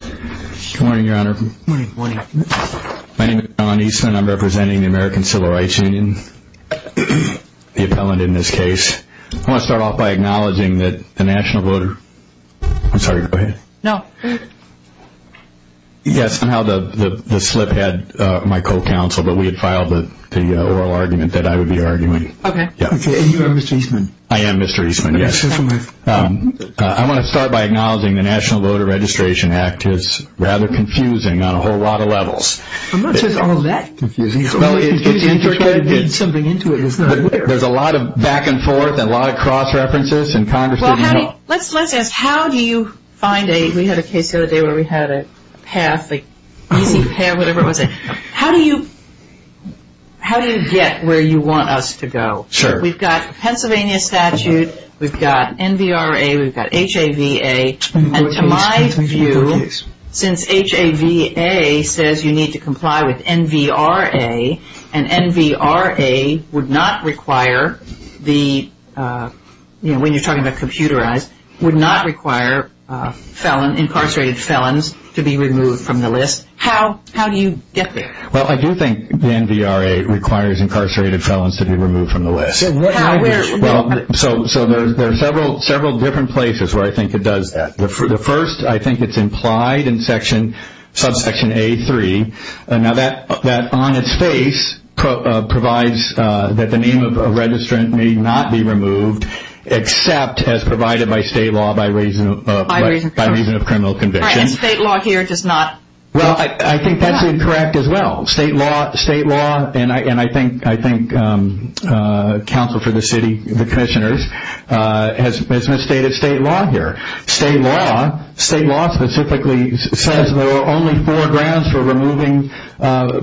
Good morning, Your Honor. My name is John Eastman. I'm representing the American Civil Rights Union, the appellant in this case. I want to start off by acknowledging that the national voter... I'm sorry, go ahead. No. Yes, somehow the slip had my co-counsel, but we had filed the oral argument that I would be arguing. Okay. And you are Mr. Eastman? I am Mr. Eastman, yes. I want to start by acknowledging the National Voter Registration Act is rather confusing on a whole lot of levels. I'm not sure it's all that confusing. Well, it's... It's confusing to try to dig something into it that's not there. There's a lot of back and forth and a lot of cross-references, and Congress didn't help. Well, how do you... let's ask how do you find a... we had a case the other day where we had a path, like easy path, whatever it was. How do you... how do you get where you want us to go? Sure. We've got Pennsylvania statute. We've got NVRA. We've got HAVA. And to my view, since HAVA says you need to comply with NVRA, and NVRA would not require the... you know, when you're talking about computerized, would not require felon, incarcerated felons to be removed from the list. How do you get there? Well, I do think the NVRA requires incarcerated felons to be removed from the list. So what... Well, so there are several different places where I think it does that. The first, I think it's implied in section... subsection A3. Now, that on its face provides that the name of a registrant may not be removed except as provided by state law by reason of... By reason of... By reason of criminal conviction. All right, and state law here does not... Well, I think that's incorrect as well. State law, state law, and I think council for the city, the commissioners, has misstated state law here. State law, state law specifically says there are only four grounds for removing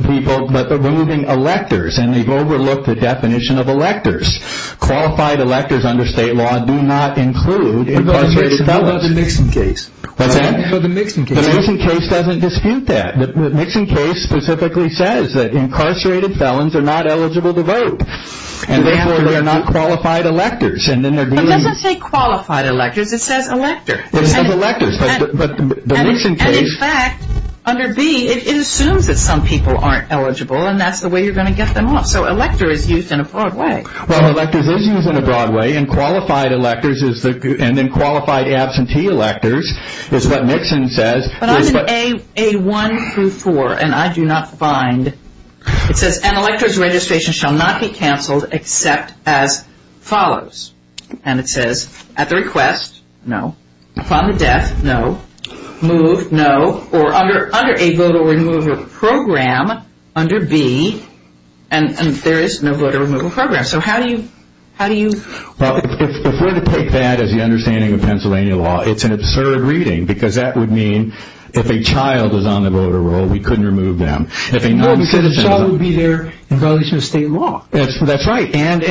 people, but removing electors. And they've overlooked the definition of electors. Qualified electors under state law do not include incarcerated felons. What about the Nixon case? What's that? What about the Nixon case? The Nixon case doesn't dispute that. The Nixon case specifically says that incarcerated felons are not eligible to vote. And therefore, they're not qualified electors. But it doesn't say qualified electors, it says elector. It says electors, but the Nixon case... And in fact, under B, it assumes that some people aren't eligible, and that's the way you're going to get them off. So elector is used in a broad way. Well, electors is used in a broad way, and qualified electors is the... But I'm in A1 through 4, and I do not find... It says, an elector's registration shall not be canceled except as follows. And it says, at the request, no. Upon the death, no. Moved, no. Or under a voter removal program, under B, and there is no voter removal program. So how do you... Well, if we're to take that as the understanding of Pennsylvania law, it's an absurd reading, because that would mean if a child is on the voter roll, we couldn't remove them. No, because a child would be there in violation of state law. That's right. And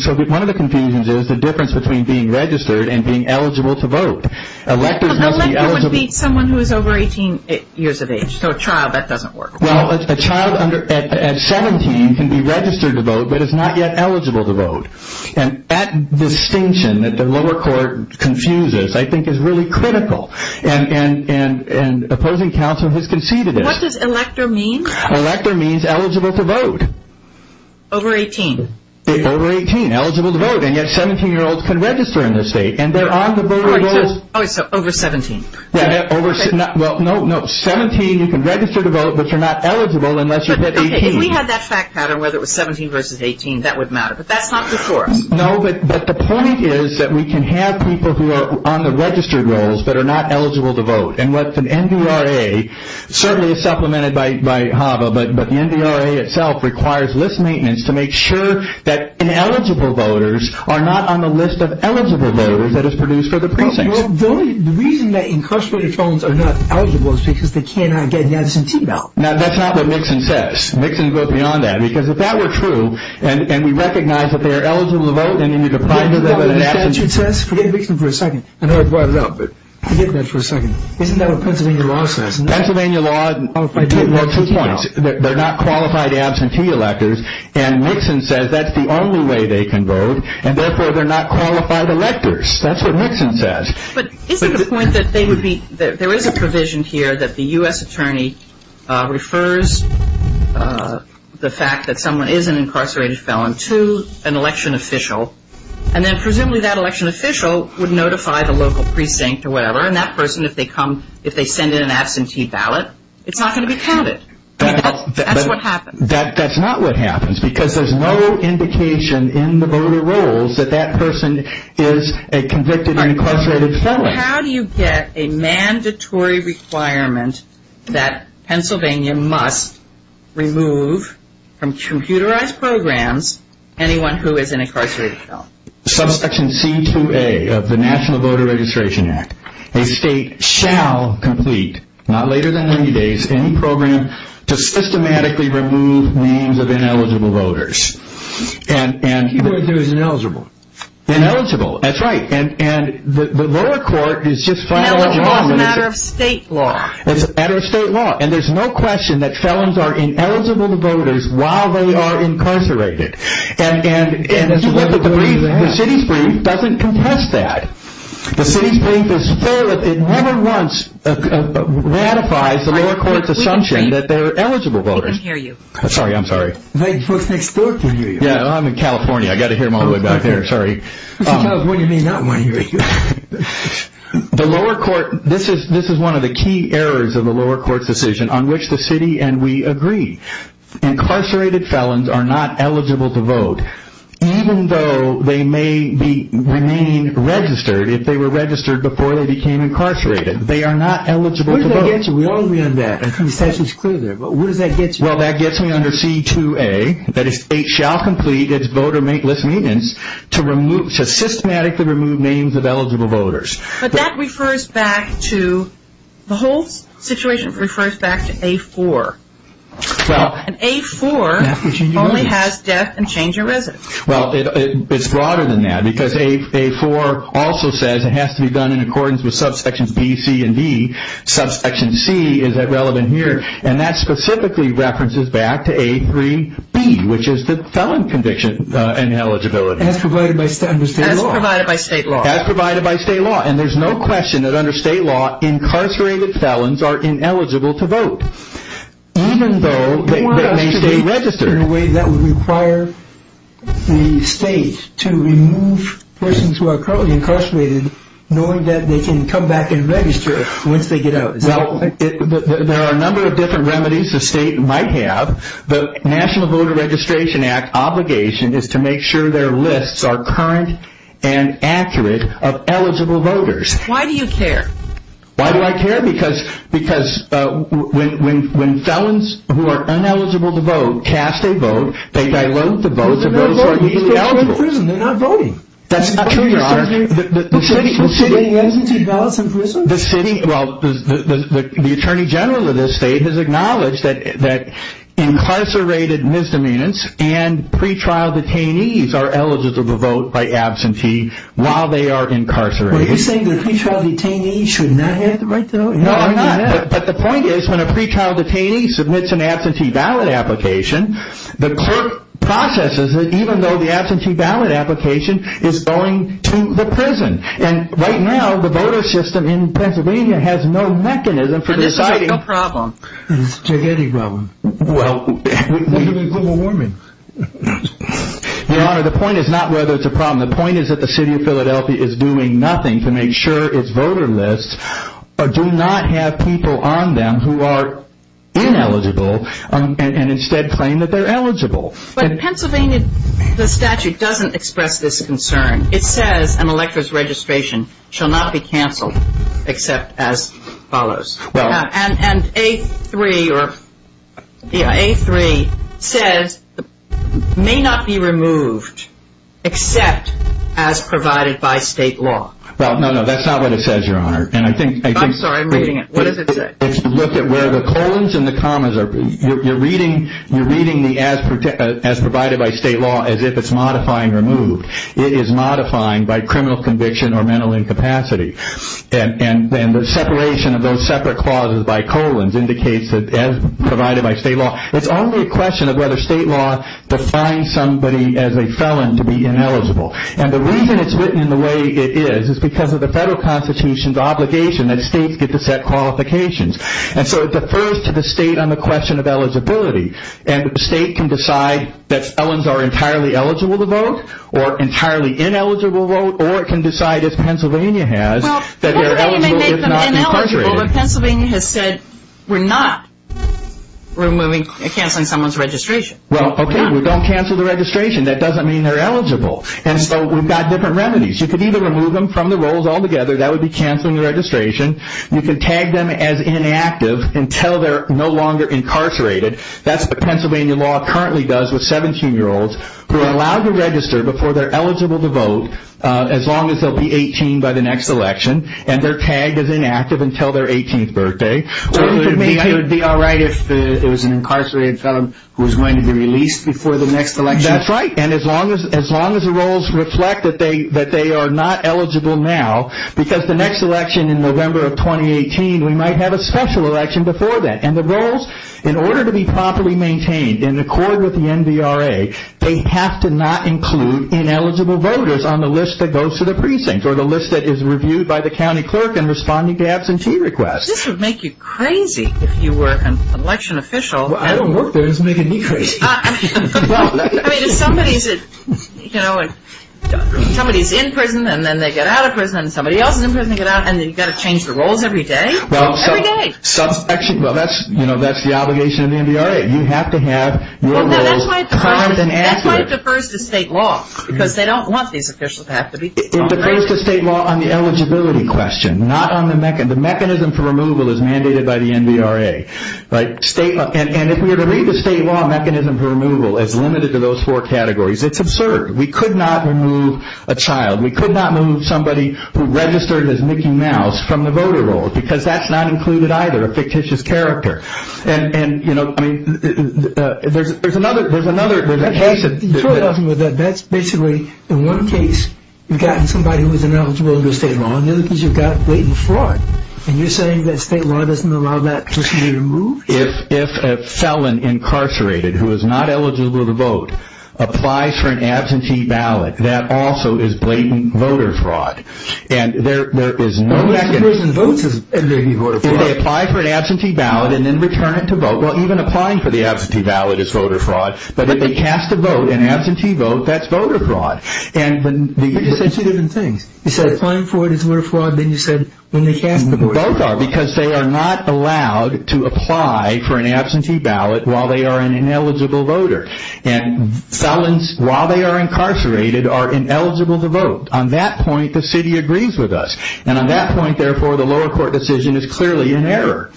so one of the confusions is the difference between being registered and being eligible to vote. Electors must be eligible... Well, an elector would be someone who is over 18 years of age. So a child, that doesn't work. Well, a child at 17 can be registered to vote, but is not yet eligible to vote. And that distinction that the lower court confuses, I think, is really critical. And opposing counsel has conceded it. What does elector mean? Elector means eligible to vote. Over 18. Over 18, eligible to vote. And yet 17-year-olds can register in this state, and they're on the voter rolls... Oh, so over 17. Well, no, 17, you can register to vote, but you're not eligible unless you hit 18. If we had that fact pattern, whether it was 17 versus 18, that would matter. But that's not the source. No, but the point is that we can have people who are on the registered rolls but are not eligible to vote. And what the NVRA, certainly it's supplemented by HAVA, but the NVRA itself requires list maintenance to make sure that ineligible voters are not on the list of eligible voters that is produced for the precincts. Well, the reason that incarcerated children are not eligible is because they cannot get the absentee ballot. Now, that's not what Nixon says. Nixon goes beyond that. Because if that were true, and we recognize that they are eligible to vote, and then you deprive them of an absentee... Forget what the statute says. Forget Nixon for a second. I know I brought it up, but forget that for a second. Isn't that what Pennsylvania law says? Pennsylvania law, two points. They're not qualified absentee electors, and Nixon says that's the only way they can vote, and therefore they're not qualified electors. That's what Nixon says. But isn't the point that there is a provision here that the U.S. attorney refers the fact that someone is an incarcerated felon to an election official, and then presumably that election official would notify the local precinct or whatever, and that person, if they come, if they send in an absentee ballot, it's not going to be counted. That's what happens. That's not what happens. Because there's no indication in the voter rolls that that person is a convicted or incarcerated felon. How do you get a mandatory requirement that Pennsylvania must remove from computerized programs anyone who is an incarcerated felon? Section C-2A of the National Voter Registration Act. A state shall complete, not later than 90 days, any program to systematically remove names of ineligible voters. Keep going through as ineligible. Ineligible, that's right. And the lower court has just filed a law. No, the law is a matter of state law. It's a matter of state law, and there's no question that felons are ineligible voters while they are incarcerated. And the city's brief doesn't contest that. The city's brief is full. It never once ratifies the lower court's assumption that they're eligible voters. I can't hear you. Sorry, I'm sorry. Folks next door can hear you. Yeah, I'm in California. I've got to hear them all the way back there. Sorry. Sometimes when you may not want to hear you. The lower court, this is one of the key errors of the lower court's decision on which the city and we agree. Incarcerated felons are not eligible to vote, even though they may remain registered if they were registered before they became incarcerated. They are not eligible to vote. Where does that get you? We all agree on that. I'm trying to set this clear there. But where does that get you? Well, that gets me under C-2A. That is, state shall complete its voter make-list meetings to systematically remove names of eligible voters. But that refers back to, the whole situation refers back to A-4. And A-4 only has death and change of residence. Well, it's broader than that. Because A-4 also says it has to be done in accordance with Subsections B, C, and D. Subsection C is relevant here. And that specifically references back to A-3B, which is the felon conviction and eligibility. As provided by state law. As provided by state law. As provided by state law. And there's no question that under state law, incarcerated felons are ineligible to vote. Even though they may stay registered. In a way that would require the state to remove persons who are currently incarcerated, knowing that they can come back and register once they get out. Well, there are a number of different remedies the state might have. The National Voter Registration Act obligation is to make sure their lists are current and accurate of eligible voters. Why do you care? Why do I care? Because when felons who are ineligible to vote cast a vote, they dilute the votes of those who are equally eligible. They're still in prison. They're not voting. That's not true, Your Honor. What's the difference between absentee ballots in prison? Well, the Attorney General of this state has acknowledged that incarcerated misdemeanants and pretrial detainees are eligible to vote by absentee while they are incarcerated. Well, are you saying that pretrial detainees should not have the right to vote? No, I'm not. But the point is, when a pretrial detainee submits an absentee ballot application, the court processes it even though the absentee ballot application is going to the prison. And right now, the voter system in Pennsylvania has no mechanism for deciding. And it's not a problem. It's a gigantic problem. Well, We're doing global warming. Your Honor, the point is not whether it's a problem. The point is that the city of Philadelphia is doing nothing to make sure its voter lists do not have people on them who are ineligible and instead claim that they're eligible. But Pennsylvania, the statute doesn't express this concern. It says an elector's registration shall not be canceled except as follows. And A3 says may not be removed except as provided by state law. Well, no, no, that's not what it says, Your Honor. I'm sorry, I'm reading it. What does it say? Look at where the colons and the commas are. You're reading the as provided by state law as if it's modifying removed. It is modifying by criminal conviction or mental incapacity. And the separation of those separate clauses by colons indicates that as provided by state law, it's only a question of whether state law defines somebody as a felon to be ineligible. And the reason it's written in the way it is is because of the federal constitution's obligation that states get to set qualifications. And so it defers to the state on the question of eligibility. And the state can decide that felons are entirely eligible to vote or entirely ineligible to vote or it can decide, as Pennsylvania has, that they're eligible if not incarcerated. Well, Pennsylvania may make them ineligible, but Pennsylvania has said we're not removing or canceling someone's registration. Well, okay, we don't cancel the registration. That doesn't mean they're eligible. And so we've got different remedies. You could either remove them from the rolls altogether. That would be canceling the registration. You could tag them as inactive until they're no longer incarcerated. That's what Pennsylvania law currently does with 17-year-olds who are allowed to register before they're eligible to vote as long as they'll be 18 by the next election and they're tagged as inactive until their 18th birthday. So it would be all right if it was an incarcerated felon who was going to be released before the next election? That's right. And as long as the rolls reflect that they are not eligible now, because the next election in November of 2018, we might have a special election before that. And the rolls, in order to be properly maintained, in accord with the NVRA, they have to not include ineligible voters on the list that goes to the precinct or the list that is reviewed by the county clerk in responding to absentee requests. This would make you crazy if you were an election official. Well, I don't work there. It doesn't make me crazy. I mean, if somebody's in prison and then they get out of prison and somebody else is in prison and they get out and you've got to change the rolls every day? Well, that's the obligation of the NVRA. That's right. You have to have your rolls current and accurate. That's why it defers to state law because they don't want these officials to have to be on the list. It defers to state law on the eligibility question, not on the mechanism. The mechanism for removal is mandated by the NVRA. And if we were to read the state law mechanism for removal as limited to those four categories, it's absurd. We could not remove a child. We could not remove somebody who registered as Mickey Mouse from the voter rolls because that's not included either, a fictitious character. And, you know, I mean, there's another, there's another. That's basically, in one case, you've gotten somebody who is ineligible under state law. In the other case, you've got blatant fraud. And you're saying that state law doesn't allow that person to be removed? If a felon incarcerated who is not eligible to vote applies for an absentee ballot, that also is blatant voter fraud. And there is no second. If they apply for an absentee ballot and then return it to vote, well, even applying for the absentee ballot is voter fraud. But if they cast a vote, an absentee vote, that's voter fraud. And there are two different things. You said applying for it is voter fraud. Then you said when they cast the vote. Both are because they are not allowed to apply for an absentee ballot while they are an ineligible voter. And felons, while they are incarcerated, are ineligible to vote. On that point, the city agrees with us. And on that point, therefore, the lower court decision is clearly in error.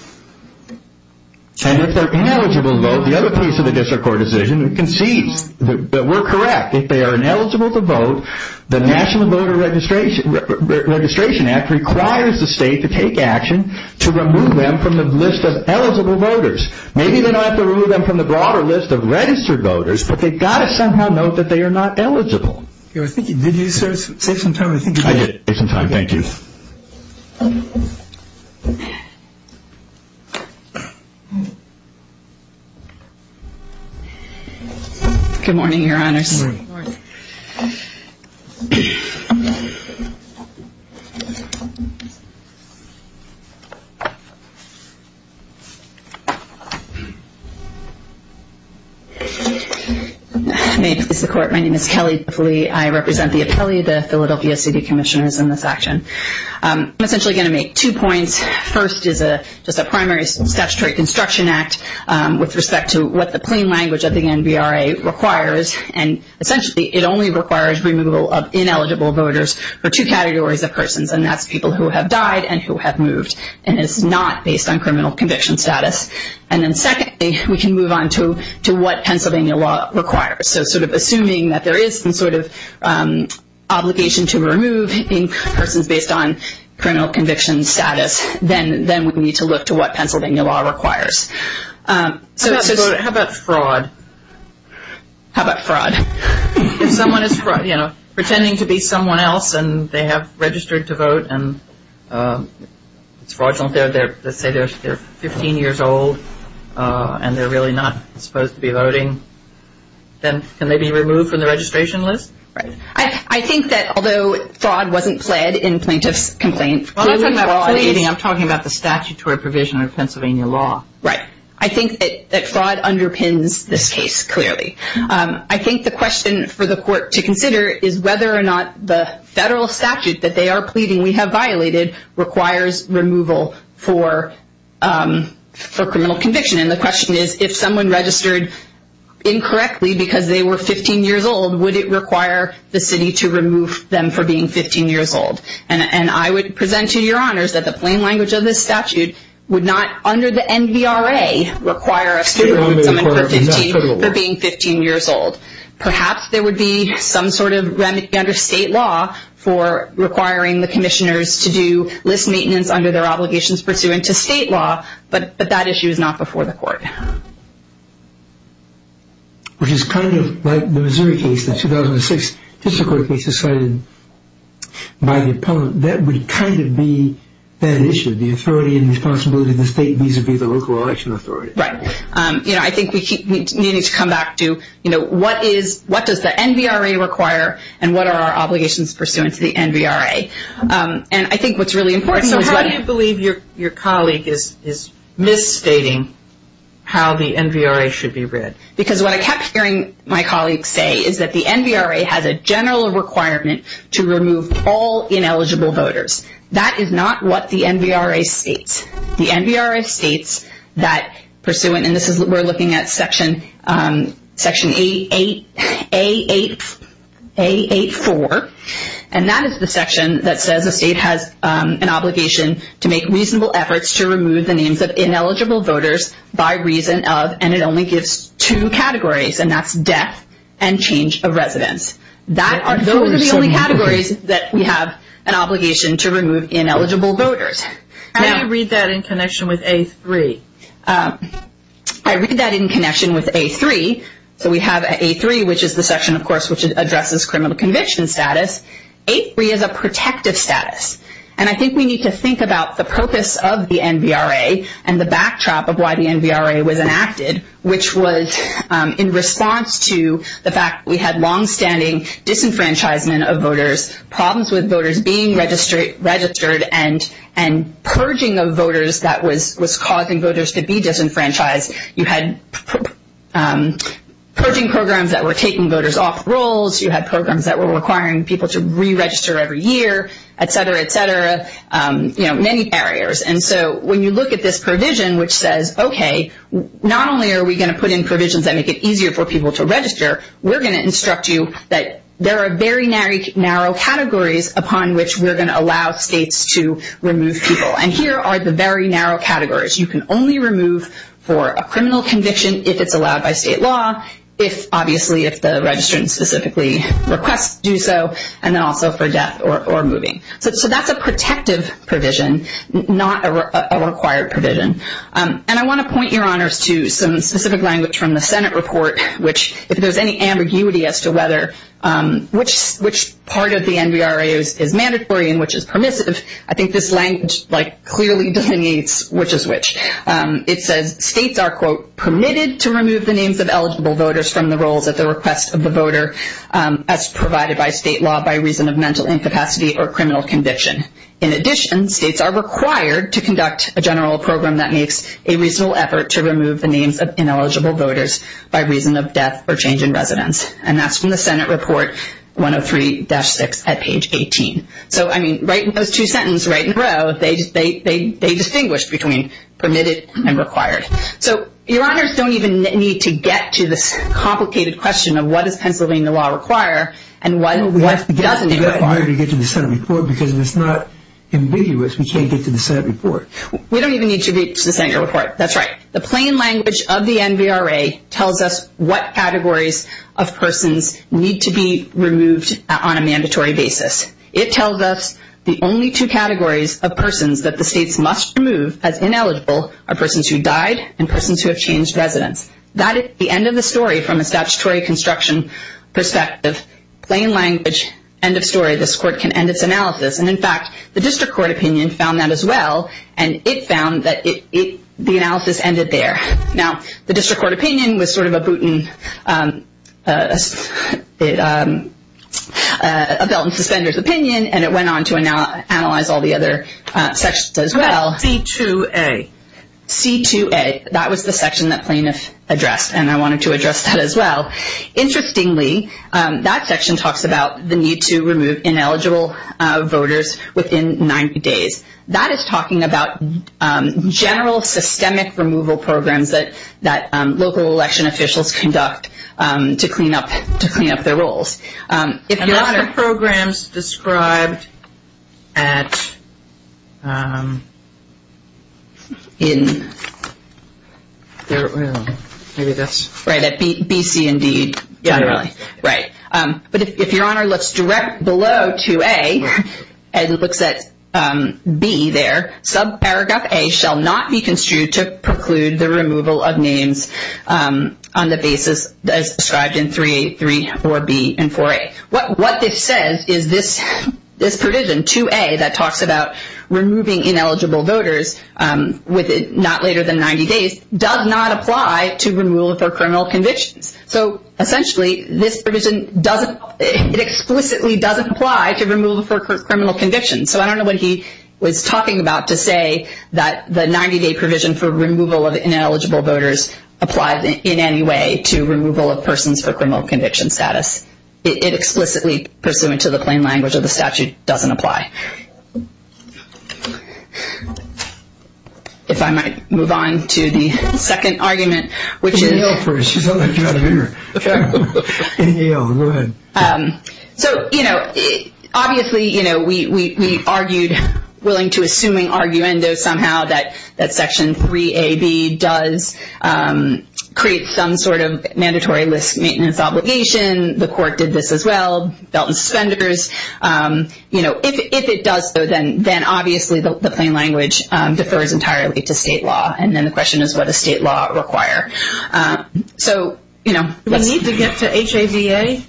And if they're ineligible to vote, the other piece of the district court decision concedes that we're correct. If they are ineligible to vote, the National Voter Registration Act requires the state to take action to remove them from the list of eligible voters. Maybe they don't have to remove them from the broader list of registered voters, but they've got to somehow note that they are not eligible. Did you save some time? I did. I did save some time. Thank you. Good morning, Your Honors. Good morning. May it please the Court, my name is Kelly Duffley. I represent the appellee, the Philadelphia City Commissioners, in this action. I'm essentially going to make two points. First is just a primary statutory construction act with respect to what the plain language of the NBRA requires. And essentially, it only requires removal of ineligible voters for two categories of persons, and that's people who have died and who have moved. And it's not based on criminal conviction status. And then secondly, we can move on to what Pennsylvania law requires. So sort of assuming that there is some sort of obligation to remove persons based on criminal conviction status, then we need to look to what Pennsylvania law requires. How about fraud? How about fraud? If someone is pretending to be someone else and they have registered to vote, and it's fraudulent, let's say they're 15 years old and they're really not supposed to be voting, then can they be removed from the registration list? Right. I think that although fraud wasn't pled in plaintiff's complaint, clearly the law is pleading. I'm talking about the statutory provision of Pennsylvania law. Right. I think that fraud underpins this case, clearly. I think the question for the Court to consider is whether or not the federal statute that they are pleading, we have violated, requires removal for criminal conviction. And the question is if someone registered incorrectly because they were 15 years old, would it require the city to remove them for being 15 years old? And I would present to your honors that the plain language of this statute would not, under the NVRA, require a student to be 15 for being 15 years old. Perhaps there would be some sort of remedy under state law for requiring the commissioners to do list maintenance under their obligations pursuant to state law, but that issue is not before the Court. Which is kind of like the Missouri case, the 2006 district court case decided by the opponent. That would kind of be that issue, the authority and responsibility of the state vis-à-vis the local election authority. Right. You know, I think we need to come back to, you know, what does the NVRA require and what are our obligations pursuant to the NVRA? And I think what's really important is- So how do you believe your colleague is misstating how the NVRA should be read? Because what I kept hearing my colleagues say is that the NVRA has a general requirement to remove all ineligible voters. That is not what the NVRA states. The NVRA states that pursuant, and this is, we're looking at section, section A8, A8, A8-4. And that is the section that says the state has an obligation to make reasonable efforts to remove the names of ineligible voters by reason of, and it only gives two categories, and that's death and change of residence. Those are the only categories that we have an obligation to remove ineligible voters. How do you read that in connection with A3? I read that in connection with A3. So we have A3, which is the section, of course, which addresses criminal conviction status. A3 is a protective status. And I think we need to think about the purpose of the NVRA and the backdrop of why the NVRA was enacted, which was in response to the fact that we had longstanding disenfranchisement of voters, problems with voters being registered, and purging of voters that was causing voters to be disenfranchised. You had purging programs that were taking voters off rolls. You had programs that were requiring people to re-register every year, et cetera, et cetera. You know, many barriers. And so when you look at this provision, which says, okay, not only are we going to put in provisions that make it easier for people to register, we're going to instruct you that there are very narrow categories upon which we're going to allow states to remove people. And here are the very narrow categories. You can only remove for a criminal conviction if it's allowed by state law, obviously if the registrant specifically requests to do so, and then also for death or moving. So that's a protective provision, not a required provision. And I want to point, Your Honors, to some specific language from the Senate report, which if there's any ambiguity as to which part of the NVRA is mandatory and which is permissive, I think this language clearly delineates which is which. It says states are, quote, permitted to remove the names of eligible voters from the rolls at the request of the voter, as provided by state law by reason of mental incapacity or criminal conviction. In addition, states are required to conduct a general program that makes a reasonable effort to remove the names of ineligible voters by reason of death or change in residence. And that's from the Senate report 103-6 at page 18. So, I mean, right in those two sentences, right in a row, they distinguish between permitted and required. So, Your Honors, don't even need to get to this complicated question of what does Pennsylvania law require and what doesn't require. We have to get to the Senate report because if it's not ambiguous, we can't get to the Senate report. We don't even need to get to the Senate report. That's right. The plain language of the NVRA tells us what categories of persons need to be removed on a mandatory basis. It tells us the only two categories of persons that the states must remove as ineligible are persons who died and persons who have changed residence. That is the end of the story from a statutory construction perspective, plain language, end of story. This court can end its analysis. And, in fact, the district court opinion found that as well, and it found that the analysis ended there. Now, the district court opinion was sort of a belt and suspender's opinion, and it went on to analyze all the other sections as well. C-2A. C-2A. That was the section that plaintiff addressed, and I wanted to address that as well. Interestingly, that section talks about the need to remove ineligible voters within 90 days. That is talking about general systemic removal programs that local election officials conduct to clean up their roles. A lot of programs described at B, C, and D generally. Right. But if Your Honor looks direct below 2A and looks at B there, subparagraph A shall not be construed to preclude the removal of names on the basis as described in 3A, 3, 4B, and 4A. What this says is this provision, 2A, that talks about removing ineligible voters not later than 90 days, does not apply to removal for criminal convictions. So, essentially, this provision doesn't, it explicitly doesn't apply to removal for criminal convictions. So I don't know what he was talking about to say that the 90-day provision for removal of ineligible voters applies in any way to removal of persons for criminal conviction status. It explicitly, pursuant to the plain language of the statute, doesn't apply. If I might move on to the second argument, which is... Inhale first. You sound like you're out of air. Inhale. Go ahead. So, you know, obviously, you know, we argued, willing to assuming arguendo somehow, that Section 3AB does create some sort of mandatory list maintenance obligation. The court did this as well. Belt and suspenders. You know, if it does so, then obviously the plain language defers entirely to state law. And then the question is what does state law require? So, you know... Do we need to get to HABA?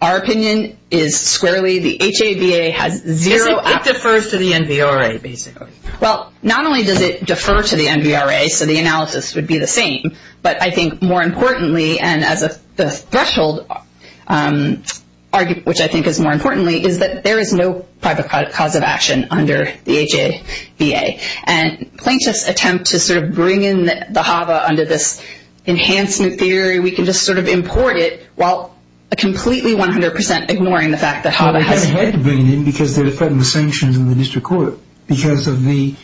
Our opinion is squarely the HABA has zero... It defers to the NVRA, basically. Well, not only does it defer to the NVRA, so the analysis would be the same, but I think more importantly, and as a threshold, which I think is more importantly, is that there is no private cause of action under the HABA. And plaintiffs attempt to sort of bring in the HABA under this enhancement theory. We can just sort of import it while completely 100% ignoring the fact that HABA has... Well, they haven't had to bring it in because they're defending the sanctions in the district court because of the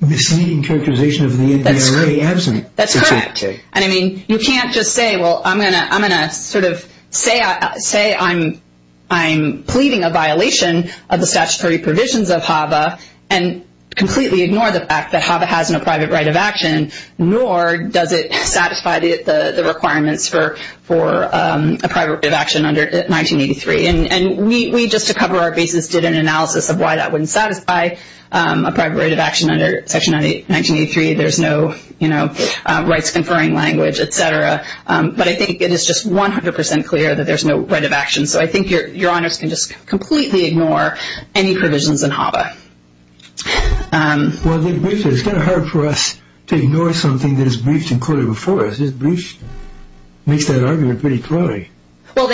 misleading characterization of the NVRA absent. That's correct. And, I mean, you can't just say, well, I'm going to sort of say I'm pleading a violation of the statutory provisions of HABA and completely ignore the fact that HABA has no private right of action, nor does it satisfy the requirements for a private right of action under 1983. And we, just to cover our bases, did an analysis of why that wouldn't satisfy a private right of action under Section 1983. There's no rights conferring language, et cetera. But I think it is just 100% clear that there's no right of action. So I think Your Honors can just completely ignore any provisions in HABA. Well, it's kind of hard for us to ignore something that is breached and quoted before us. This breach makes that argument pretty cloying. You're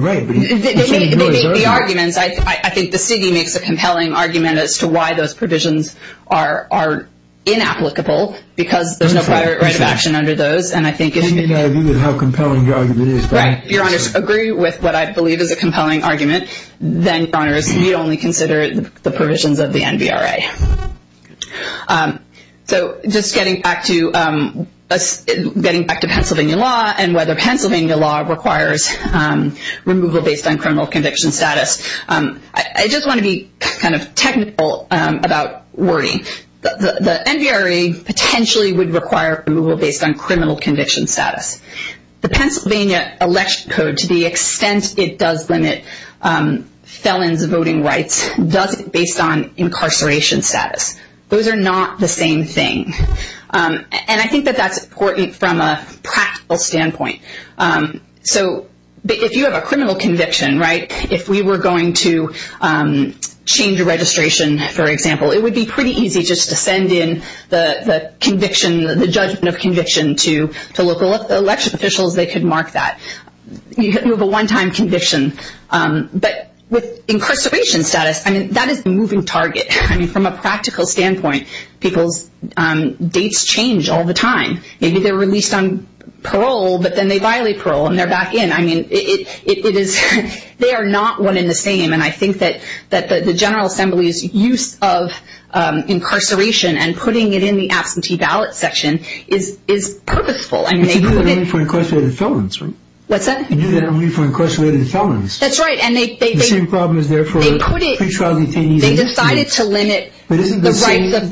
right, but you can't ignore the argument. They make the arguments. I think the city makes a compelling argument as to why those provisions are inapplicable because there's no private right of action under those. And I think it's... And you can argue with how compelling your argument is. Right. If Your Honors agree with what I believe is a compelling argument, then Your Honors need only consider the provisions of the NVRA. So just getting back to Pennsylvania law and whether Pennsylvania law requires removal based on criminal conviction status, I just want to be kind of technical about wording. The NVRA potentially would require removal based on criminal conviction status. The Pennsylvania Election Code, to the extent it does limit felons' voting rights, does it based on incarceration status. Those are not the same thing. And I think that that's important from a practical standpoint. So if you have a criminal conviction, right, if we were going to change a registration, for example, it would be pretty easy just to send in the conviction, the judgment of conviction, to local election officials. They could mark that. You could move a one-time conviction. But with incarceration status, I mean, that is a moving target. I mean, from a practical standpoint, people's dates change all the time. Maybe they're released on parole, but then they violate parole and they're back in. I mean, it is... They are not one and the same. And I think that the General Assembly's use of incarceration and putting it in the absentee ballot section is purposeful. But you do that only for incarcerated felons, right? What's that? You do that only for incarcerated felons. That's right. The same problem is there for pre-trial detainees. They decided to limit the rights of votes.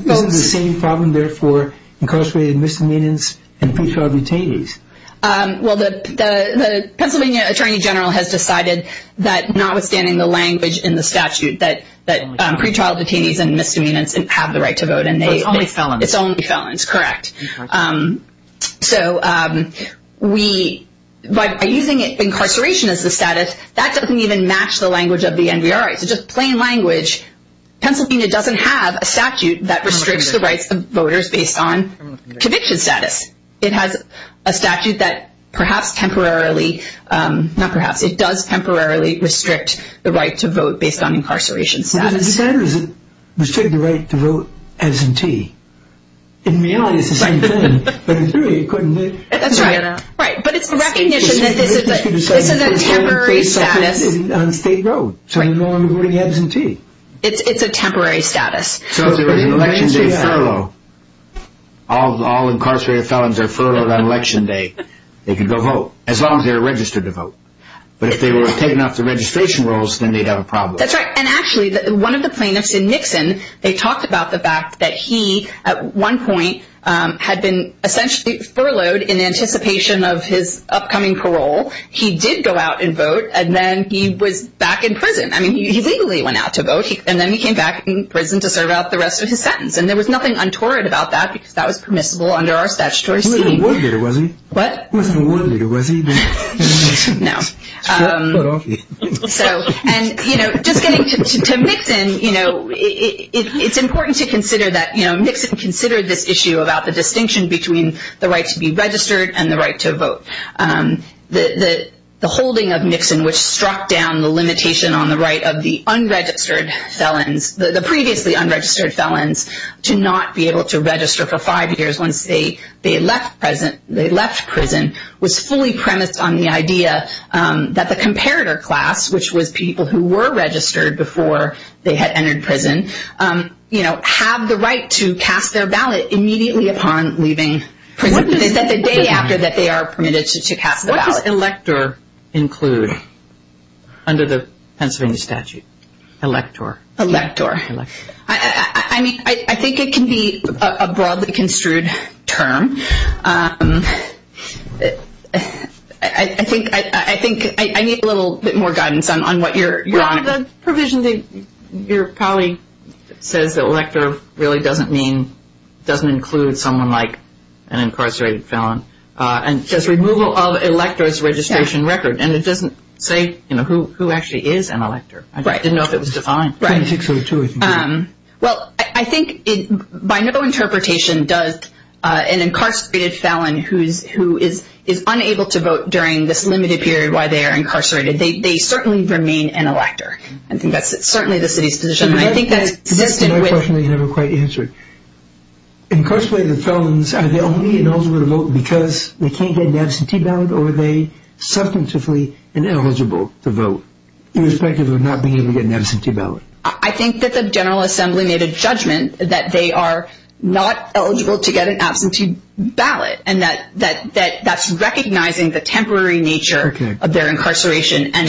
But isn't the same problem there for incarcerated misdemeanors and pre-trial detainees? Well, the Pennsylvania Attorney General has decided that, notwithstanding the language in the statute, that pre-trial detainees and misdemeanors have the right to vote. So it's only felons. It's only felons, correct. So by using incarceration as the status, that doesn't even match the language of the NVRA. So just plain language, Pennsylvania doesn't have a statute that restricts the rights of voters based on conviction status. It has a statute that perhaps temporarily, not perhaps, it does temporarily restrict the right to vote based on incarceration status. Does it decide or does it restrict the right to vote absentee? In reality, it's the same thing. But in theory, it couldn't be. That's right. Right, but it's the recognition that this is a temporary status. This is a temporary status on State Road, so there's no one voting absentee. It's a temporary status. So if there was an election day furlough, all incarcerated felons are furloughed on election day, they could go vote as long as they're registered to vote. But if they were taken off the registration rolls, then they'd have a problem. That's right. And actually, one of the plaintiffs in Nixon, they talked about the fact that he, at one point, had been essentially furloughed in anticipation of his upcoming parole. He did go out and vote, and then he was back in prison. I mean, he legally went out to vote, and then he came back in prison to serve out the rest of his sentence. And there was nothing untoward about that, because that was permissible under our statutory scheme. He wasn't a war leader, was he? What? He wasn't a war leader, was he? No. So, and, you know, just getting to Nixon, you know, it's important to consider that, you know, Nixon considered this issue about the distinction between the right to be registered and the right to vote. The holding of Nixon, which struck down the limitation on the right of the unregistered felons, the previously unregistered felons, to not be able to register for five years once they left prison, was fully premised on the idea that the comparator class, which was people who were registered before they had entered prison, you know, have the right to cast their ballot immediately upon leaving prison. What does elector include under the Pennsylvania statute? Elector. Elector. I mean, I think it can be a broadly construed term. I think I need a little bit more guidance on what you're on. Well, the provision that your colleague says that elector really doesn't mean, doesn't include someone like an incarcerated felon. It says removal of elector's registration record, and it doesn't say, you know, who actually is an elector. I didn't know if it was defined. Right. Well, I think by no interpretation does an incarcerated felon who is unable to vote during this limited period while they are incarcerated, they certainly remain an elector. I think that's certainly the city's position. I think that's consistent with. That's another question that you never quite answered. Incarcerated felons, are they only eligible to vote because they can't get an absentee ballot, or are they substantively ineligible to vote irrespective of not being able to get an absentee ballot? I think that the General Assembly made a judgment that they are not eligible to get an absentee ballot, and that that's recognizing the temporary nature of their incarceration and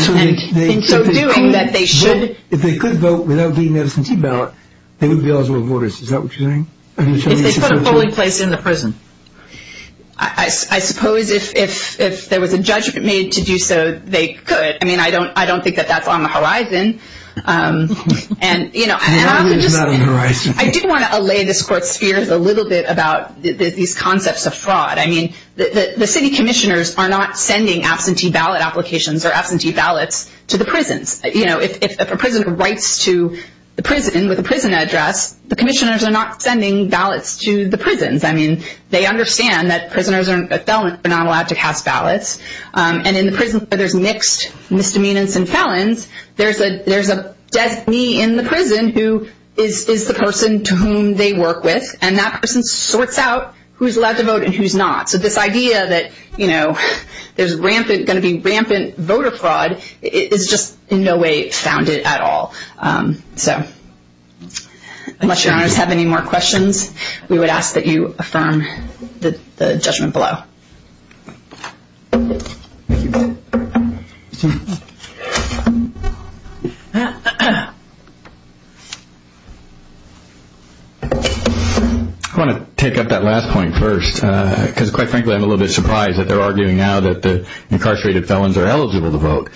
in so doing that they should. If they could vote without getting an absentee ballot, they would be eligible to vote. Is that what you're saying? If they put a polling place in the prison. I suppose if there was a judgment made to do so, they could. I mean, I don't think that that's on the horizon. I do want to allay this Court's fears a little bit about these concepts of fraud. I mean, the city commissioners are not sending absentee ballot applications or absentee ballots to the prisons. If a prisoner writes to the prison with a prison address, the commissioners are not sending ballots to the prisons. I mean, they understand that prisoners are not allowed to cast ballots, and in the prisons where there's mixed misdemeanors and felons, there's a designee in the prison who is the person to whom they work with, and that person sorts out who's allowed to vote and who's not. So this idea that there's going to be rampant voter fraud is just in no way founded at all. So unless your honors have any more questions, we would ask that you affirm the judgment below. I want to take up that last point first because, quite frankly, I'm a little bit surprised that they're arguing now that the incarcerated felons are eligible to vote.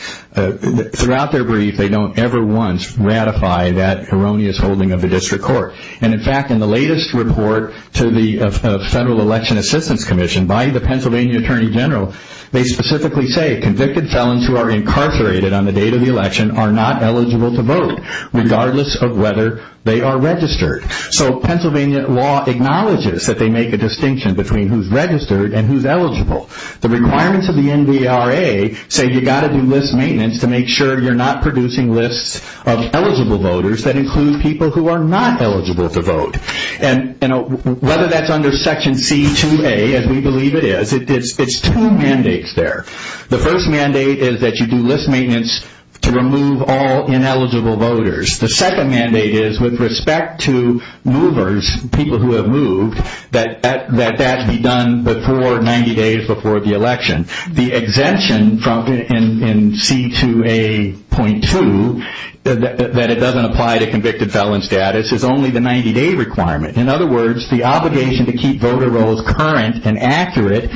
Throughout their brief, they don't ever once ratify that erroneous holding of the district court. And, in fact, in the latest report to the Federal Election Assistance Commission by the Pennsylvania Attorney General, they specifically say, convicted felons who are incarcerated on the date of the election are not eligible to vote, regardless of whether they are registered. So Pennsylvania law acknowledges that they make a distinction between who's registered and who's eligible. The requirements of the NVRA say you've got to do list maintenance to make sure you're not producing lists of eligible voters that include people who are not eligible to vote. And whether that's under Section C2A, as we believe it is, it's two mandates there. The first mandate is that you do list maintenance to remove all ineligible voters. The second mandate is, with respect to movers, people who have moved, that that be done 90 days before the election. The exemption in C2A.2, that it doesn't apply to convicted felon status, is only the 90-day requirement. In other words, the obligation to keep voter rolls current and accurate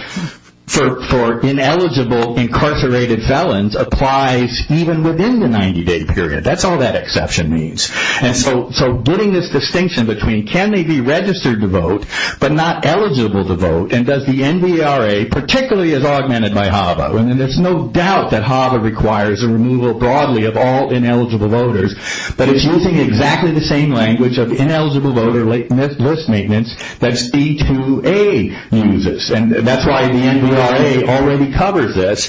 for ineligible incarcerated felons applies even within the 90-day period. That's all that exception means. So getting this distinction between can they be registered to vote but not eligible to vote, and does the NVRA, particularly as augmented by HAVA, and there's no doubt that HAVA requires a removal broadly of all ineligible voters, but it's using exactly the same language of ineligible voter list maintenance that C2A uses, and that's why the NVRA already covers this.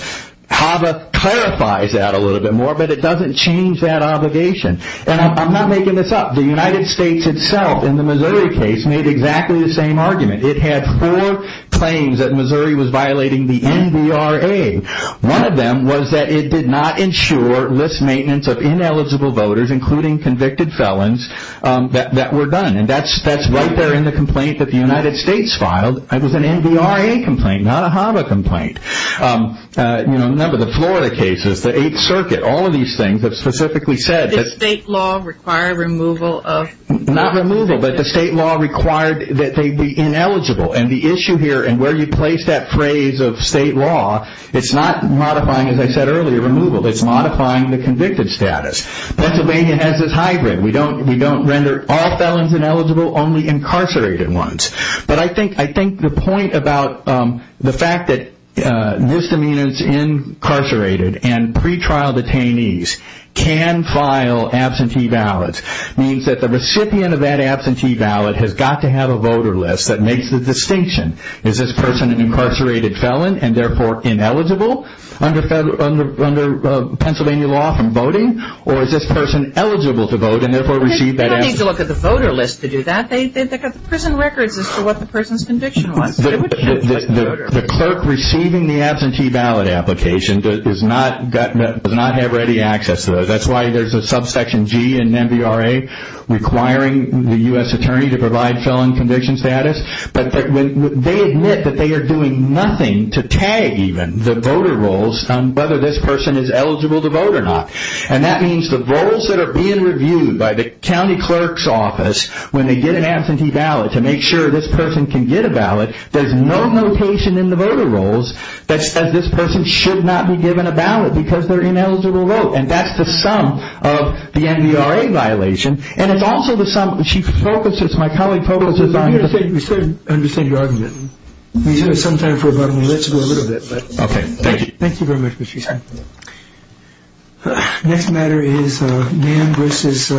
HAVA clarifies that a little bit more, but it doesn't change that obligation. And I'm not making this up. The United States itself, in the Missouri case, made exactly the same argument. It had four claims that Missouri was violating the NVRA. One of them was that it did not ensure list maintenance of ineligible voters, including convicted felons, that were done. And that's right there in the complaint that the United States filed. It was an NVRA complaint, not a HAVA complaint. Remember the Florida cases, the Eighth Circuit, all of these things have specifically said that the state law required that they be ineligible. And the issue here, and where you place that phrase of state law, it's not modifying, as I said earlier, removal. It's modifying the convicted status. Pennsylvania has this hybrid. We don't render all felons ineligible, only incarcerated ones. But I think the point about the fact that misdemeanors incarcerated and pretrial detainees can file absentee ballots means that the recipient of that absentee ballot has got to have a voter list that makes the distinction. Is this person an incarcerated felon and therefore ineligible under Pennsylvania law from voting? Or is this person eligible to vote and therefore receive that absentee ballot? They don't need to look at the voter list to do that. They've got the prison records as to what the person's conviction was. The clerk receiving the absentee ballot application does not have ready access to those. That's why there's a subsection G in NVRA requiring the U.S. attorney to provide felon conviction status. But they admit that they are doing nothing to tag even the voter rolls on whether this person is eligible to vote or not. And that means the rolls that are being reviewed by the county clerk's office when they get an absentee ballot to make sure this person can get a ballot, there's no notation in the voter rolls that says this person should not be given a ballot because they're ineligible to vote. And that's the sum of the NVRA violation. And it's also the sum, she focuses, my colleague focuses on... We understand your argument. We have some time for a button. Let's go a little bit. Okay. Thank you. Thank you very much, Mr. Sheehan. Next matter is Nam versus...